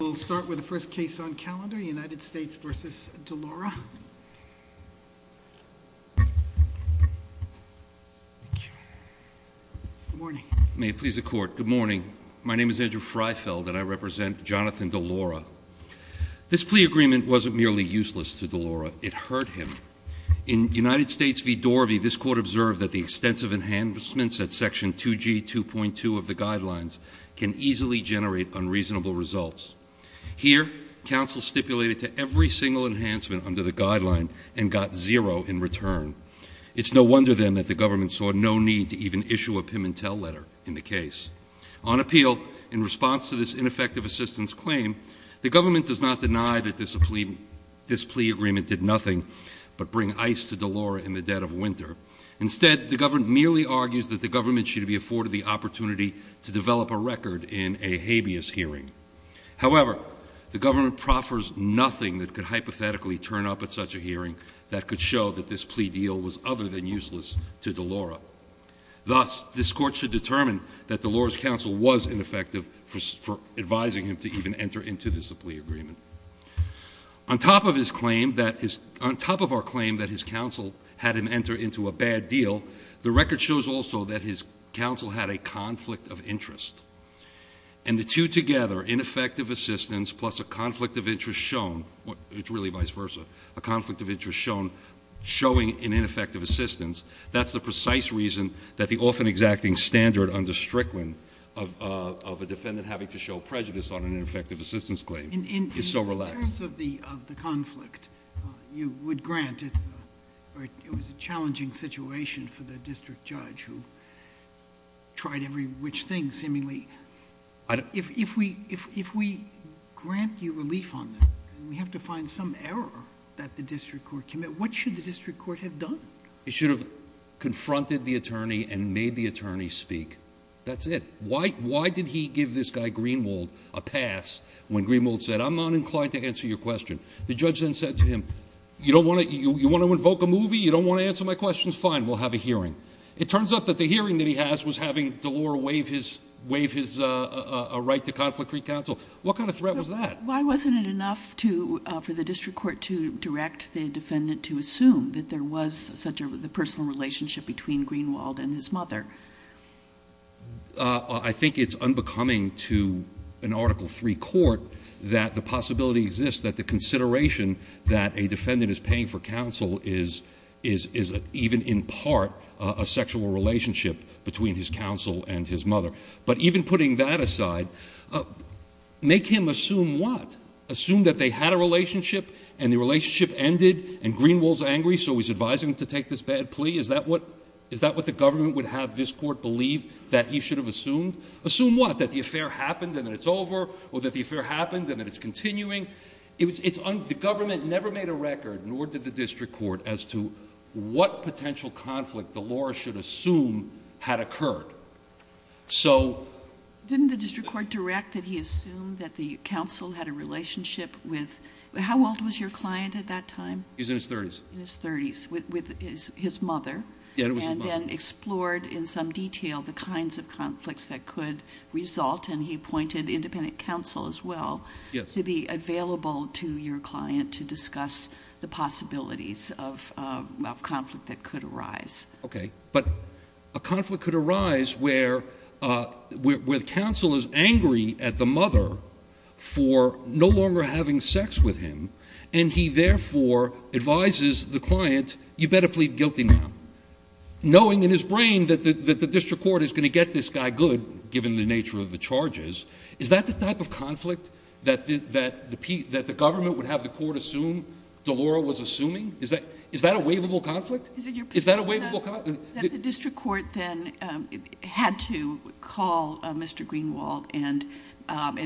We'll start with the first case on calendar, United States v. DeLaura. Good morning. May it please the Court. Good morning. My name is Andrew Freifeld and I represent Jonathan DeLaura. This plea agreement wasn't merely useless to DeLaura, it hurt him. In United States v. Dorothy, this Court observed that the extensive enhancements at Section 2G 2.2 of the Guidelines can easily generate unreasonable results. Here, counsel stipulated to every single enhancement under the Guideline and got zero in return. It's no wonder, then, that the government saw no need to even issue a Pimentel letter in the case. On appeal, in response to this ineffective assistance claim, the government does not deny that this plea agreement did nothing but bring ice to DeLaura in the dead of winter. Instead, the government merely argues that the government should be afforded the opportunity to develop a record in a habeas hearing. However, the government proffers nothing that could hypothetically turn up at such a hearing that could show that this plea deal was other than useless to DeLaura. Thus, this Court should determine that DeLaura's counsel was ineffective for advising him to even enter into this plea agreement. On top of our claim that his counsel had him enter into a bad deal, the record shows also that his counsel had a conflict of interest. And the two together, ineffective assistance plus a conflict of interest shown, it's really vice versa, a conflict of interest shown showing an ineffective assistance, that's the precise reason that the often-exacting standard under Strickland of a defendant having to show prejudice on an ineffective assistance claim is so relaxed. In terms of the conflict, you would grant it was a challenging situation for the district judge, who tried every which thing seemingly. If we grant you relief on that, and we have to find some error that the district court committed, what should the district court have done? It should have confronted the attorney and made the attorney speak. That's it. Why did he give this guy, Greenwald, a pass when Greenwald said, I'm not inclined to answer your question. The judge then said to him, you want to invoke a movie? You don't want to answer my questions? Fine. We'll have a hearing. It turns out that the hearing that he has was having DeLaura waive his right to conflict recounsel. What kind of threat was that? Why wasn't it enough for the district court to direct the defendant to assume that there was such a personal relationship between Greenwald and his mother? I think it's unbecoming to an Article III court that the possibility exists that the consideration that a defendant is paying for counsel is even in part a sexual relationship between his counsel and his mother. But even putting that aside, make him assume what? Assume that they had a relationship and the relationship ended and Greenwald's angry, so he's advising him to take this bad plea? Is that what the government would have this court believe that he should have assumed? Assume what? That the affair happened and that it's over? Or that the affair happened and that it's continuing? The government never made a record, nor did the district court, as to what potential conflict DeLaura should assume had occurred. So... Didn't the district court direct that he assumed that the counsel had a relationship with... How old was your client at that time? He was in his thirties. In his thirties, with his mother. Yeah, it was his mother. And then explored in some detail the kinds of conflicts that could result, and he appointed independent counsel as well... Yes.... to be available to your client to discuss the possibilities of conflict that could arise. Okay, but a conflict could arise where the counsel is angry at the mother for no longer having sex with him, and he therefore advises the client, you better plead guilty now. Knowing in his brain that the district court is going to get this guy good, given the nature of the charges, is that the type of conflict that the government would have the court assume DeLaura was assuming? Is that a waivable conflict? Is that a waivable conflict? That the district court then had to call Mr. Greenwald and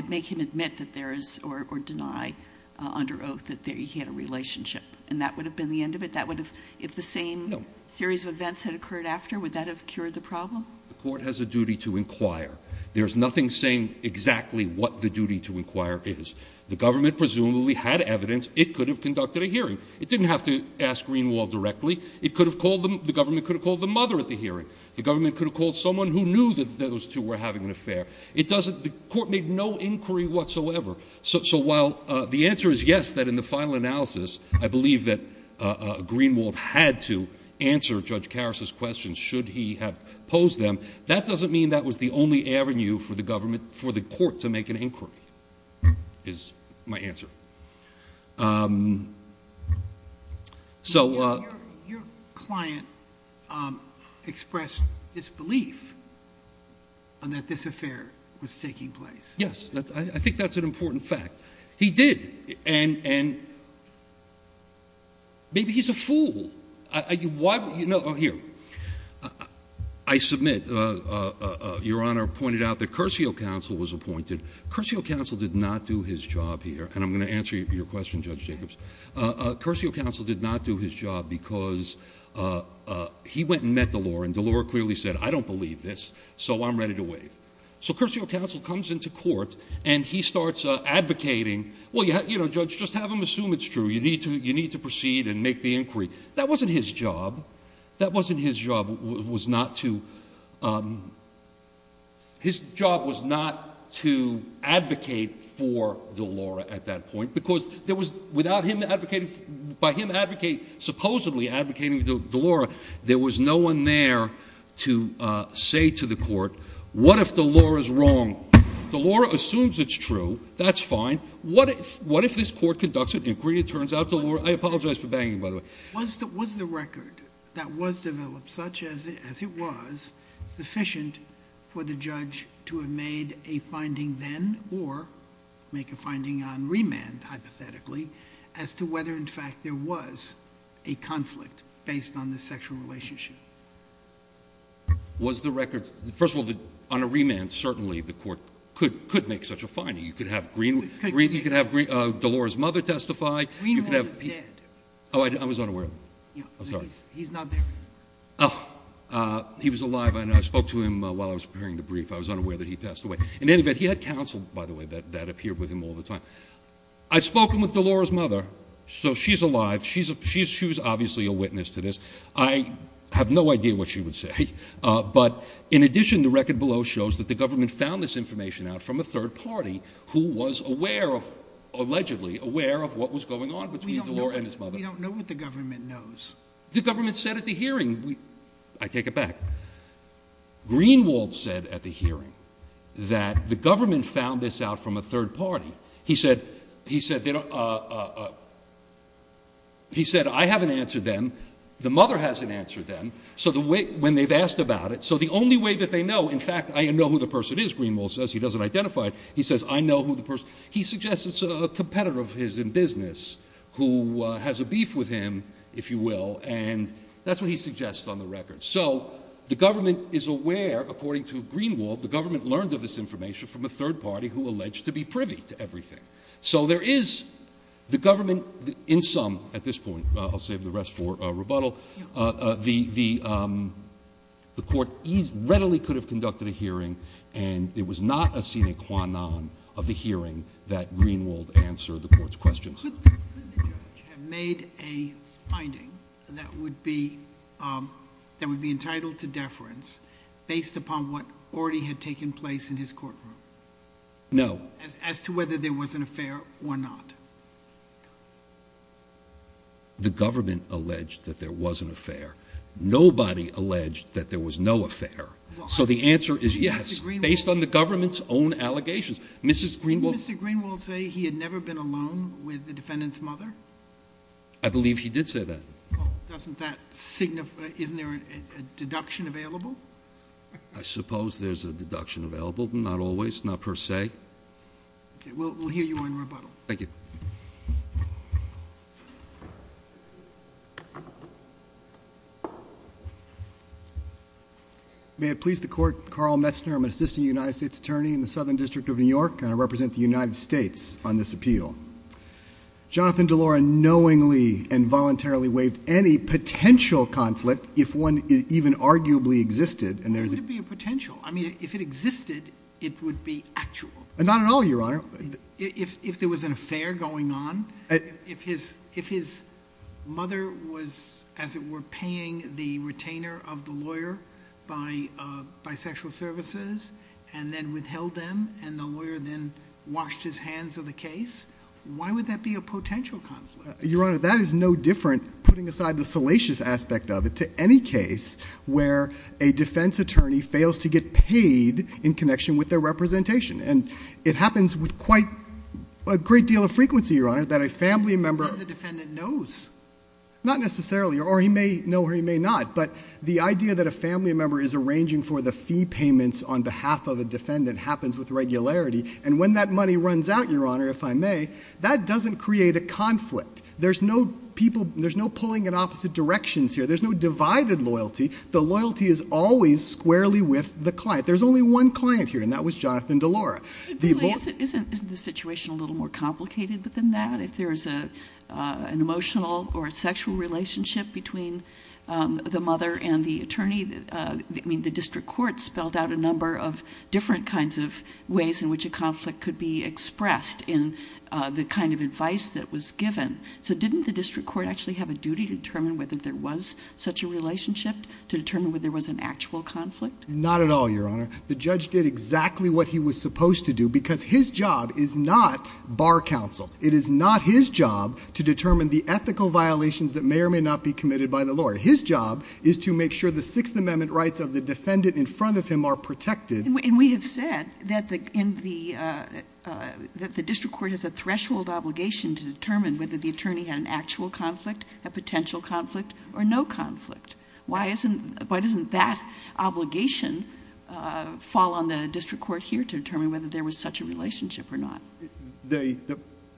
make him admit that there is, or deny under oath, that he had a relationship. And that would have been the end of it? That would have... No. If the same series of events had occurred after, would that have cured the problem? The court has a duty to inquire. There is nothing saying exactly what the duty to inquire is. The government presumably had evidence it could have conducted a hearing. It didn't have to ask Greenwald directly. The government could have called the mother at the hearing. The government could have called someone who knew that those two were having an affair. The court made no inquiry whatsoever. So while the answer is yes, that in the final analysis, I believe that Greenwald had to answer Judge Karas's questions should he have posed them, that doesn't mean that was the only avenue for the court to make an inquiry, is my answer. Your client expressed disbelief that this affair was taking place. Yes. I think that's an important fact. He did, and maybe he's a fool. I submit, Your Honor pointed out that Curcio Counsel was appointed. Curcio Counsel did not do his job here, and I'm going to answer your question, Judge Jacobs. Curcio Counsel did not do his job because he went and met Delore, and Delore clearly said, I don't believe this, so I'm ready to waive. So Curcio Counsel comes into court, and he starts advocating, well, Judge, just have him assume it's true. You need to proceed and make the inquiry. That wasn't his job. That wasn't his job was not to advocate for Delore at that point because there was, without him advocating, by him advocating, supposedly advocating Delore, there was no one there to say to the court, what if Delore is wrong? Delore assumes it's true. That's fine. What if this court conducts an inquiry and turns out Delore, I apologize for banging, by the way. Was the record that was developed such as it was sufficient for the judge to have made a finding then or make a finding on remand hypothetically as to whether, in fact, there was a conflict based on the sexual relationship? Was the record, first of all, on a remand, certainly the court could make such a finding. You could have Delore's mother testify. Greenwald is dead. Oh, I was unaware of him. I'm sorry. He's not there. Oh, he was alive, and I spoke to him while I was preparing the brief. I was unaware that he passed away. In any event, he had counsel, by the way, that appeared with him all the time. I've spoken with Delore's mother, so she's alive. She was obviously a witness to this. I have no idea what she would say, but in addition, the record below shows that the government found this information out from a third party who was aware of, allegedly aware of what was going on between Delore and his mother. We don't know what the government knows. The government said at the hearing, I take it back, Greenwald said at the hearing that the government found this out from a third party. He said, I haven't answered them. The mother hasn't answered them. So when they've asked about it, so the only way that they know, in fact, I know who the person is, Greenwald says, he doesn't identify it. He says, I know who the person is. He suggests it's a competitor of his in business who has a beef with him, if you will, and that's what he suggests on the record. So the government is aware, according to Greenwald, the government learned of this information from a third party who alleged to be privy to everything. So there is the government in sum at this point, I'll save the rest for rebuttal, the court readily could have conducted a hearing, and it was not a sine qua non of the hearing that Greenwald answered the court's questions. Could the judge have made a finding that would be entitled to deference based upon what already had taken place in his courtroom? No. As to whether there was an affair or not. The government alleged that there was an affair. Nobody alleged that there was no affair. So the answer is yes, based on the government's own allegations. Did Mr. Greenwald say he had never been alone with the defendant's mother? I believe he did say that. Doesn't that signify, isn't there a deduction available? I suppose there's a deduction available, but not always, not per se. Okay, we'll hear you on rebuttal. Thank you. May it please the court, Carl Metzner, I'm an assistant United States attorney in the Southern District of New York, and I represent the United States on this appeal. Jonathan DeLauro knowingly and voluntarily waived any potential conflict if one even arguably existed. Why would it be a potential? I mean, if it existed, it would be actual. Not at all, Your Honor. If there was an affair going on, if his mother was, as it were, paying the retainer of the lawyer by sexual services and then withheld them and the lawyer then washed his hands of the case, why would that be a potential conflict? Your Honor, that is no different, putting aside the salacious aspect of it, to any case where a defense attorney fails to get paid in connection with their representation. And it happens with quite a great deal of frequency, Your Honor, that a family member... And the defendant knows. Not necessarily, or he may know or he may not, but the idea that a family member is arranging for the fee payments on behalf of a defendant happens with regularity, and when that money runs out, Your Honor, if I may, that doesn't create a conflict. There's no pulling in opposite directions here. There's no divided loyalty. The loyalty is always squarely with the client. There's only one client here, and that was Jonathan DeLaura. Isn't the situation a little more complicated than that? If there's an emotional or sexual relationship between the mother and the attorney, the district court spelled out a number of different kinds of ways in which a conflict could be expressed in the kind of advice that was given. So didn't the district court actually have a duty to determine whether there was such a relationship, to determine whether there was an actual conflict? Not at all, Your Honor. The judge did exactly what he was supposed to do because his job is not bar counsel. It is not his job to determine the ethical violations that may or may not be committed by the lawyer. His job is to make sure the Sixth Amendment rights of the defendant in front of him are protected. And we have said that the district court has a threshold obligation to determine whether the attorney had an actual conflict, a potential conflict, or no conflict. Why doesn't that obligation fall on the district court here to determine whether there was such a relationship or not?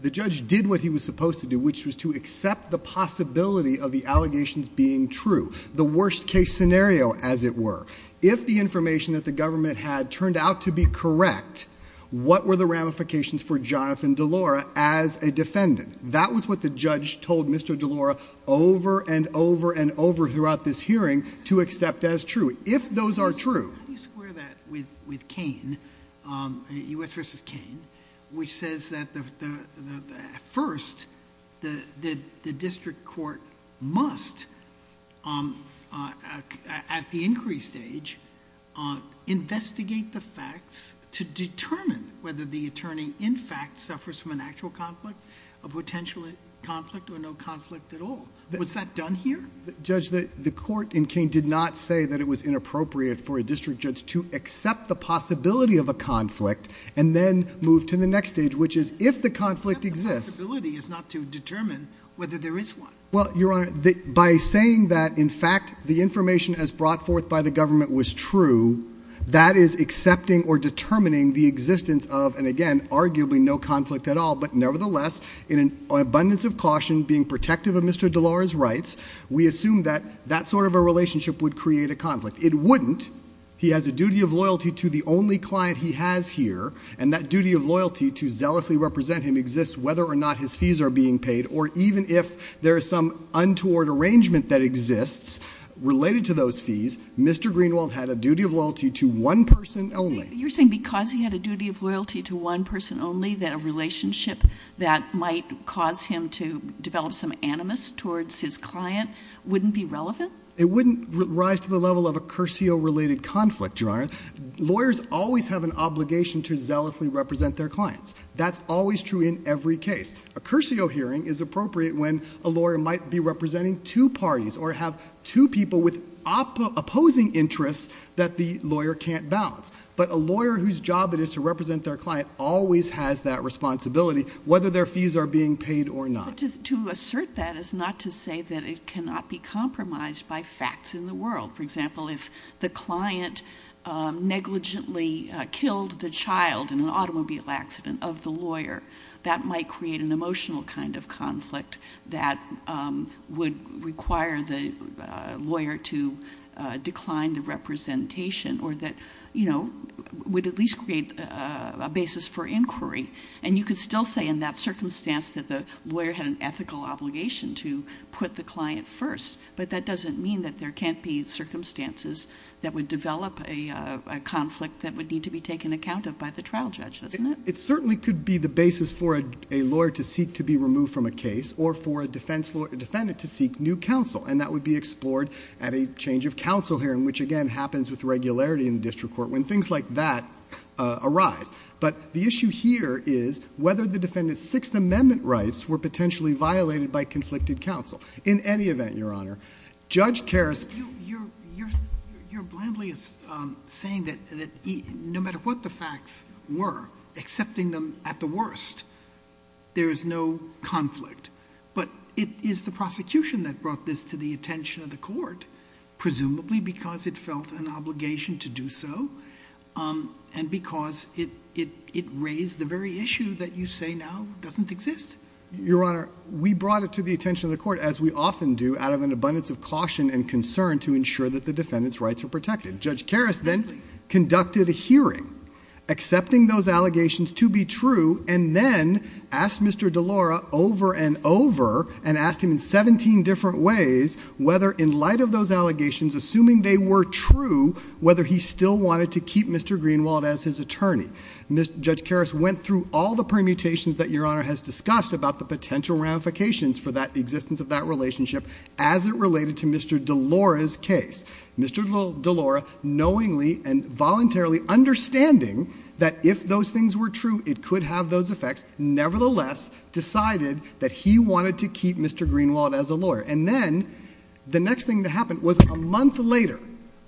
The judge did what he was supposed to do, which was to accept the possibility of the allegations being true, the worst case scenario, as it were. If the information that the government had turned out to be correct, what were the ramifications for Jonathan Delora as a defendant? That was what the judge told Mr. Delora over and over and over throughout this hearing to accept as true, if those are true. How do you square that with Kain, U.S. v. Kain, which says that, first, the district court must, at the inquiry stage, investigate the facts to determine whether the attorney, in fact, suffers from an actual conflict, a potential conflict, or no conflict at all? Was that done here? Judge, the court in Kain did not say that it was inappropriate for a district judge to accept the possibility of a conflict and then move to the next stage, which is, if the conflict exists... The possibility is not to determine whether there is one. Well, Your Honor, by saying that, in fact, the information as brought forth by the government was true, that is accepting or determining the existence of, and again, arguably no conflict at all, but nevertheless, in an abundance of caution, being protective of Mr. Delora's rights, we assume that that sort of a relationship would create a conflict. It wouldn't. He has a duty of loyalty to the only client he has here, and that duty of loyalty to zealously represent him exists whether or not his fees are being paid or even if there is some untoward arrangement that exists related to those fees. Mr. Greenwald had a duty of loyalty to one person only. You're saying because he had a duty of loyalty to one person only that a relationship that might cause him to develop some animus towards his client wouldn't be relevant? It wouldn't rise to the level of a Curcio-related conflict, Your Honor. Lawyers always have an obligation to zealously represent their clients. That's always true in every case. A Curcio hearing is appropriate when a lawyer might be representing two parties or have two people with opposing interests that the lawyer can't balance. But a lawyer whose job it is to represent their client always has that responsibility whether their fees are being paid or not. But to assert that is not to say that it cannot be compromised by facts in the world. For example, if the client negligently killed the child in an automobile accident of the lawyer, that might create an emotional kind of conflict that would require the lawyer to decline the representation or that would at least create a basis for inquiry. And you could still say in that circumstance that the lawyer had an ethical obligation to put the client first, but that doesn't mean that there can't be circumstances that would develop a conflict that would need to be taken account of by the trial judge, doesn't it? It certainly could be the basis for a lawyer to seek to be removed from a case or for a defendant to seek new counsel, and that would be explored at a change-of-counsel hearing, which again happens with regularity in the district court when things like that arise. But the issue here is whether the defendant's Sixth Amendment rights were potentially violated by conflicted counsel. In any event, Your Honor, Judge Karras... You're blandly saying that no matter what the facts were, accepting them at the worst, there is no conflict. But it is the prosecution that brought this to the attention of the court, presumably because it felt an obligation to do so and because it raised the very issue that you say now doesn't exist. Your Honor, we brought it to the attention of the court, as we often do, out of an abundance of caution and concern to ensure that the defendant's rights are protected. Judge Karras then conducted a hearing accepting those allegations to be true and then asked Mr. DeLauro over and over and asked him in 17 different ways whether in light of those allegations, assuming they were true, whether he still wanted to keep Mr. Greenwald as his attorney. Judge Karras went through all the permutations that Your Honor has discussed about the potential ramifications for the existence of that relationship as it related to Mr. DeLauro's case. Mr. DeLauro, knowingly and voluntarily understanding that if those things were true, it could have those effects, nevertheless decided that he wanted to keep Mr. Greenwald as a lawyer. And then the next thing that happened was a month later,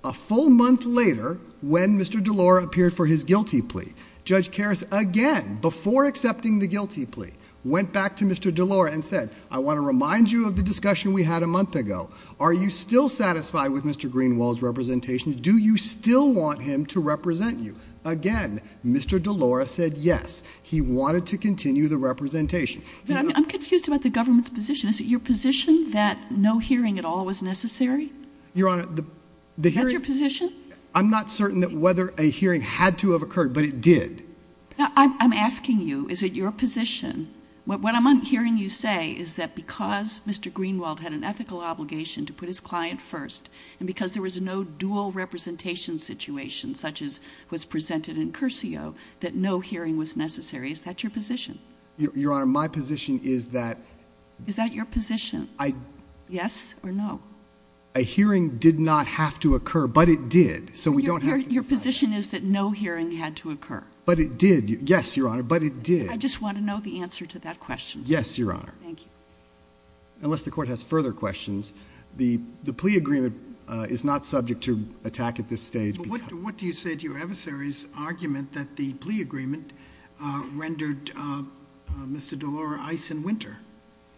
a full month later, when Mr. DeLauro appeared for his guilty plea. Judge Karras, again, before accepting the guilty plea, went back to Mr. DeLauro and said, I want to remind you of the discussion we had a month ago. Are you still satisfied with Mr. Greenwald's representation? Do you still want him to represent you? Again, Mr. DeLauro said yes. He wanted to continue the representation. I'm confused about the government's position. Is it your position that no hearing at all was necessary? Your Honor, the hearing... Is that your position? I'm not certain that whether a hearing had to have occurred, but it did. I'm asking you, is it your position, what I'm hearing you say is that because Mr. Greenwald had an ethical obligation to put his client first and because there was no dual representation situation such as was presented in Curcio, that no hearing was necessary. Is that your position? Your Honor, my position is that... Is that your position? Yes or no? A hearing did not have to occur, but it did. So we don't have to decide that. Your position is that no hearing had to occur? But it did. Yes, Your Honor, but it did. I just want to know the answer to that question. Yes, Your Honor. Thank you. Unless the Court has further questions, the plea agreement is not subject to attack at this stage. But what do you say to your adversary's argument that the plea agreement rendered Mr. Delora ice and winter?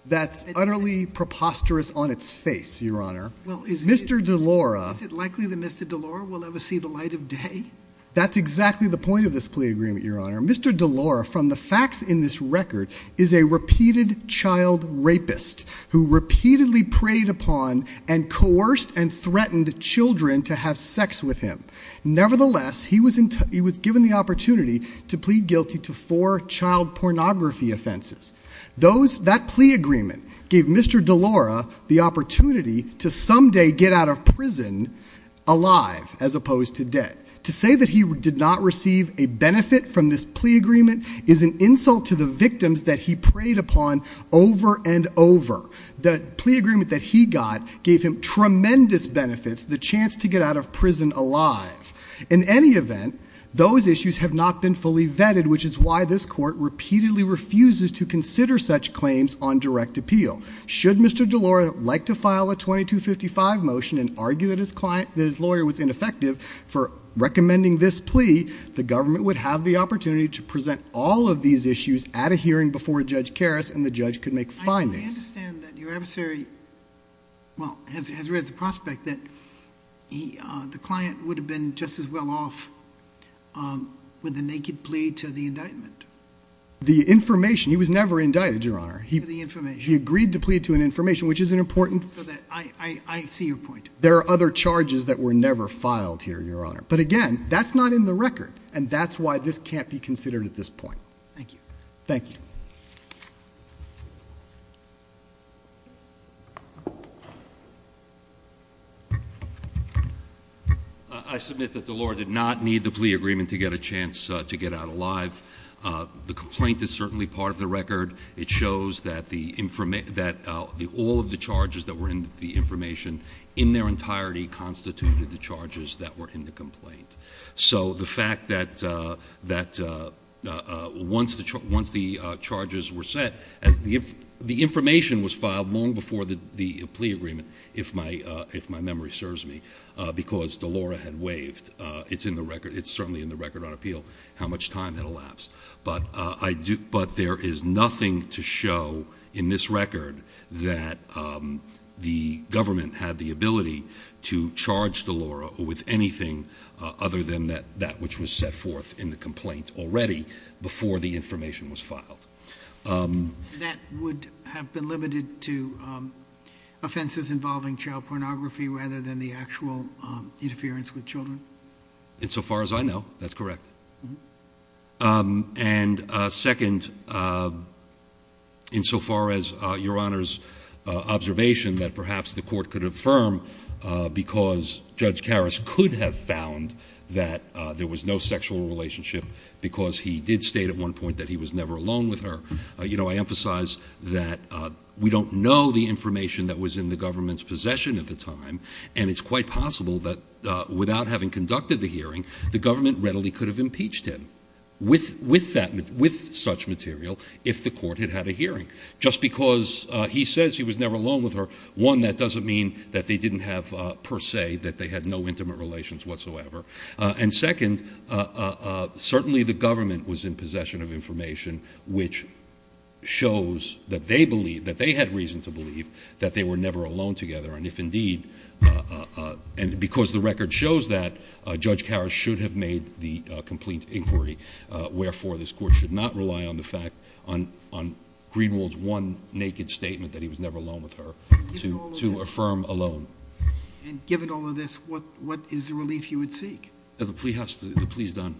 That's utterly preposterous on its face, Your Honor. Mr. Delora... Is it likely that Mr. Delora will ever see the light of day? That's exactly the point of this plea agreement, Your Honor. Mr. Delora, from the facts in this record, is a repeated child rapist who repeatedly preyed upon and coerced and threatened children to have sex with him. Nevertheless, he was given the opportunity to plead guilty to four child pornography offenses. That plea agreement gave Mr. Delora the opportunity to someday get out of prison alive, as opposed to dead. To say that he did not receive a benefit from this plea agreement is an insult to the victims that he preyed upon over and over. The plea agreement that he got gave him tremendous benefits, the chance to get out of prison alive. In any event, those issues have not been fully vetted, which is why this court repeatedly refuses to consider such claims on direct appeal. Should Mr. Delora like to file a 2255 motion and argue that his lawyer was ineffective for recommending this plea, the government would have the opportunity to present all of these issues at a hearing before Judge Karas, and the judge could make findings. I understand that your adversary has read the prospect that the client would have been just as well off with a naked plea to the indictment. The information, he was never indicted, Your Honor. He agreed to plead to an information, which is an important... I see your point. There are other charges that were never filed here, Your Honor. But again, that's not in the record, and that's why this can't be considered at this point. Thank you. Thank you. I submit that Delora did not need the plea agreement to get a chance to get out alive. The complaint is certainly part of the record. It shows that all of the charges that were in the information in their entirety constituted the charges that were in the complaint. So the fact that once the charges were set, the information was filed long before the plea agreement, if my memory serves me, because Delora had waived. It's certainly in the record on appeal how much time had elapsed. But there is nothing to show in this record that the government had the ability to charge Delora with anything other than that which was set forth in the complaint already before the information was filed. That would have been limited to offenses involving child pornography rather than the actual interference with children? Insofar as I know, that's correct. And second, insofar as Your Honor's observation that perhaps the court could affirm because Judge Karas could have found that there was no sexual relationship because he did state at one point that he was never alone with her. I emphasize that we don't know the information that was in the government's possession at the time, and it's quite possible that without having conducted the hearing, the government readily could have impeached him with such material if the court had had a hearing. Just because he says he was never alone with her, one, that doesn't mean that they didn't have per se, that they had no intimate relations whatsoever. And second, certainly the government was in possession of information which shows that they had reason to believe that they were never alone together, and if indeed, and because the record shows that, Judge Karas should have made the complete inquiry. Wherefore, this court should not rely on Greenwald's one naked statement that he was never alone with her to affirm alone. And given all of this, what is the relief you would seek? The plea is done.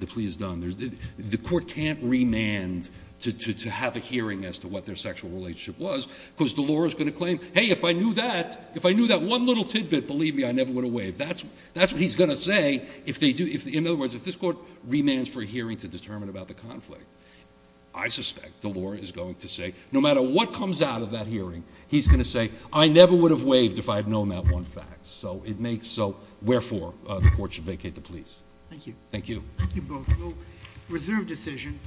The plea is done. The court can't remand to have a hearing as to what their sexual relationship was because Delora's going to claim, Hey, if I knew that one little tidbit, believe me, I never would have waved. That's what he's going to say. In other words, if this court remands for a hearing to determine about the conflict, I suspect Delora is going to say, no matter what comes out of that hearing, he's going to say, I never would have waved if I had known that one fact. So it makes, so wherefore, the court should vacate the pleas. Thank you. Thank you. Thank you both. Reserve decision.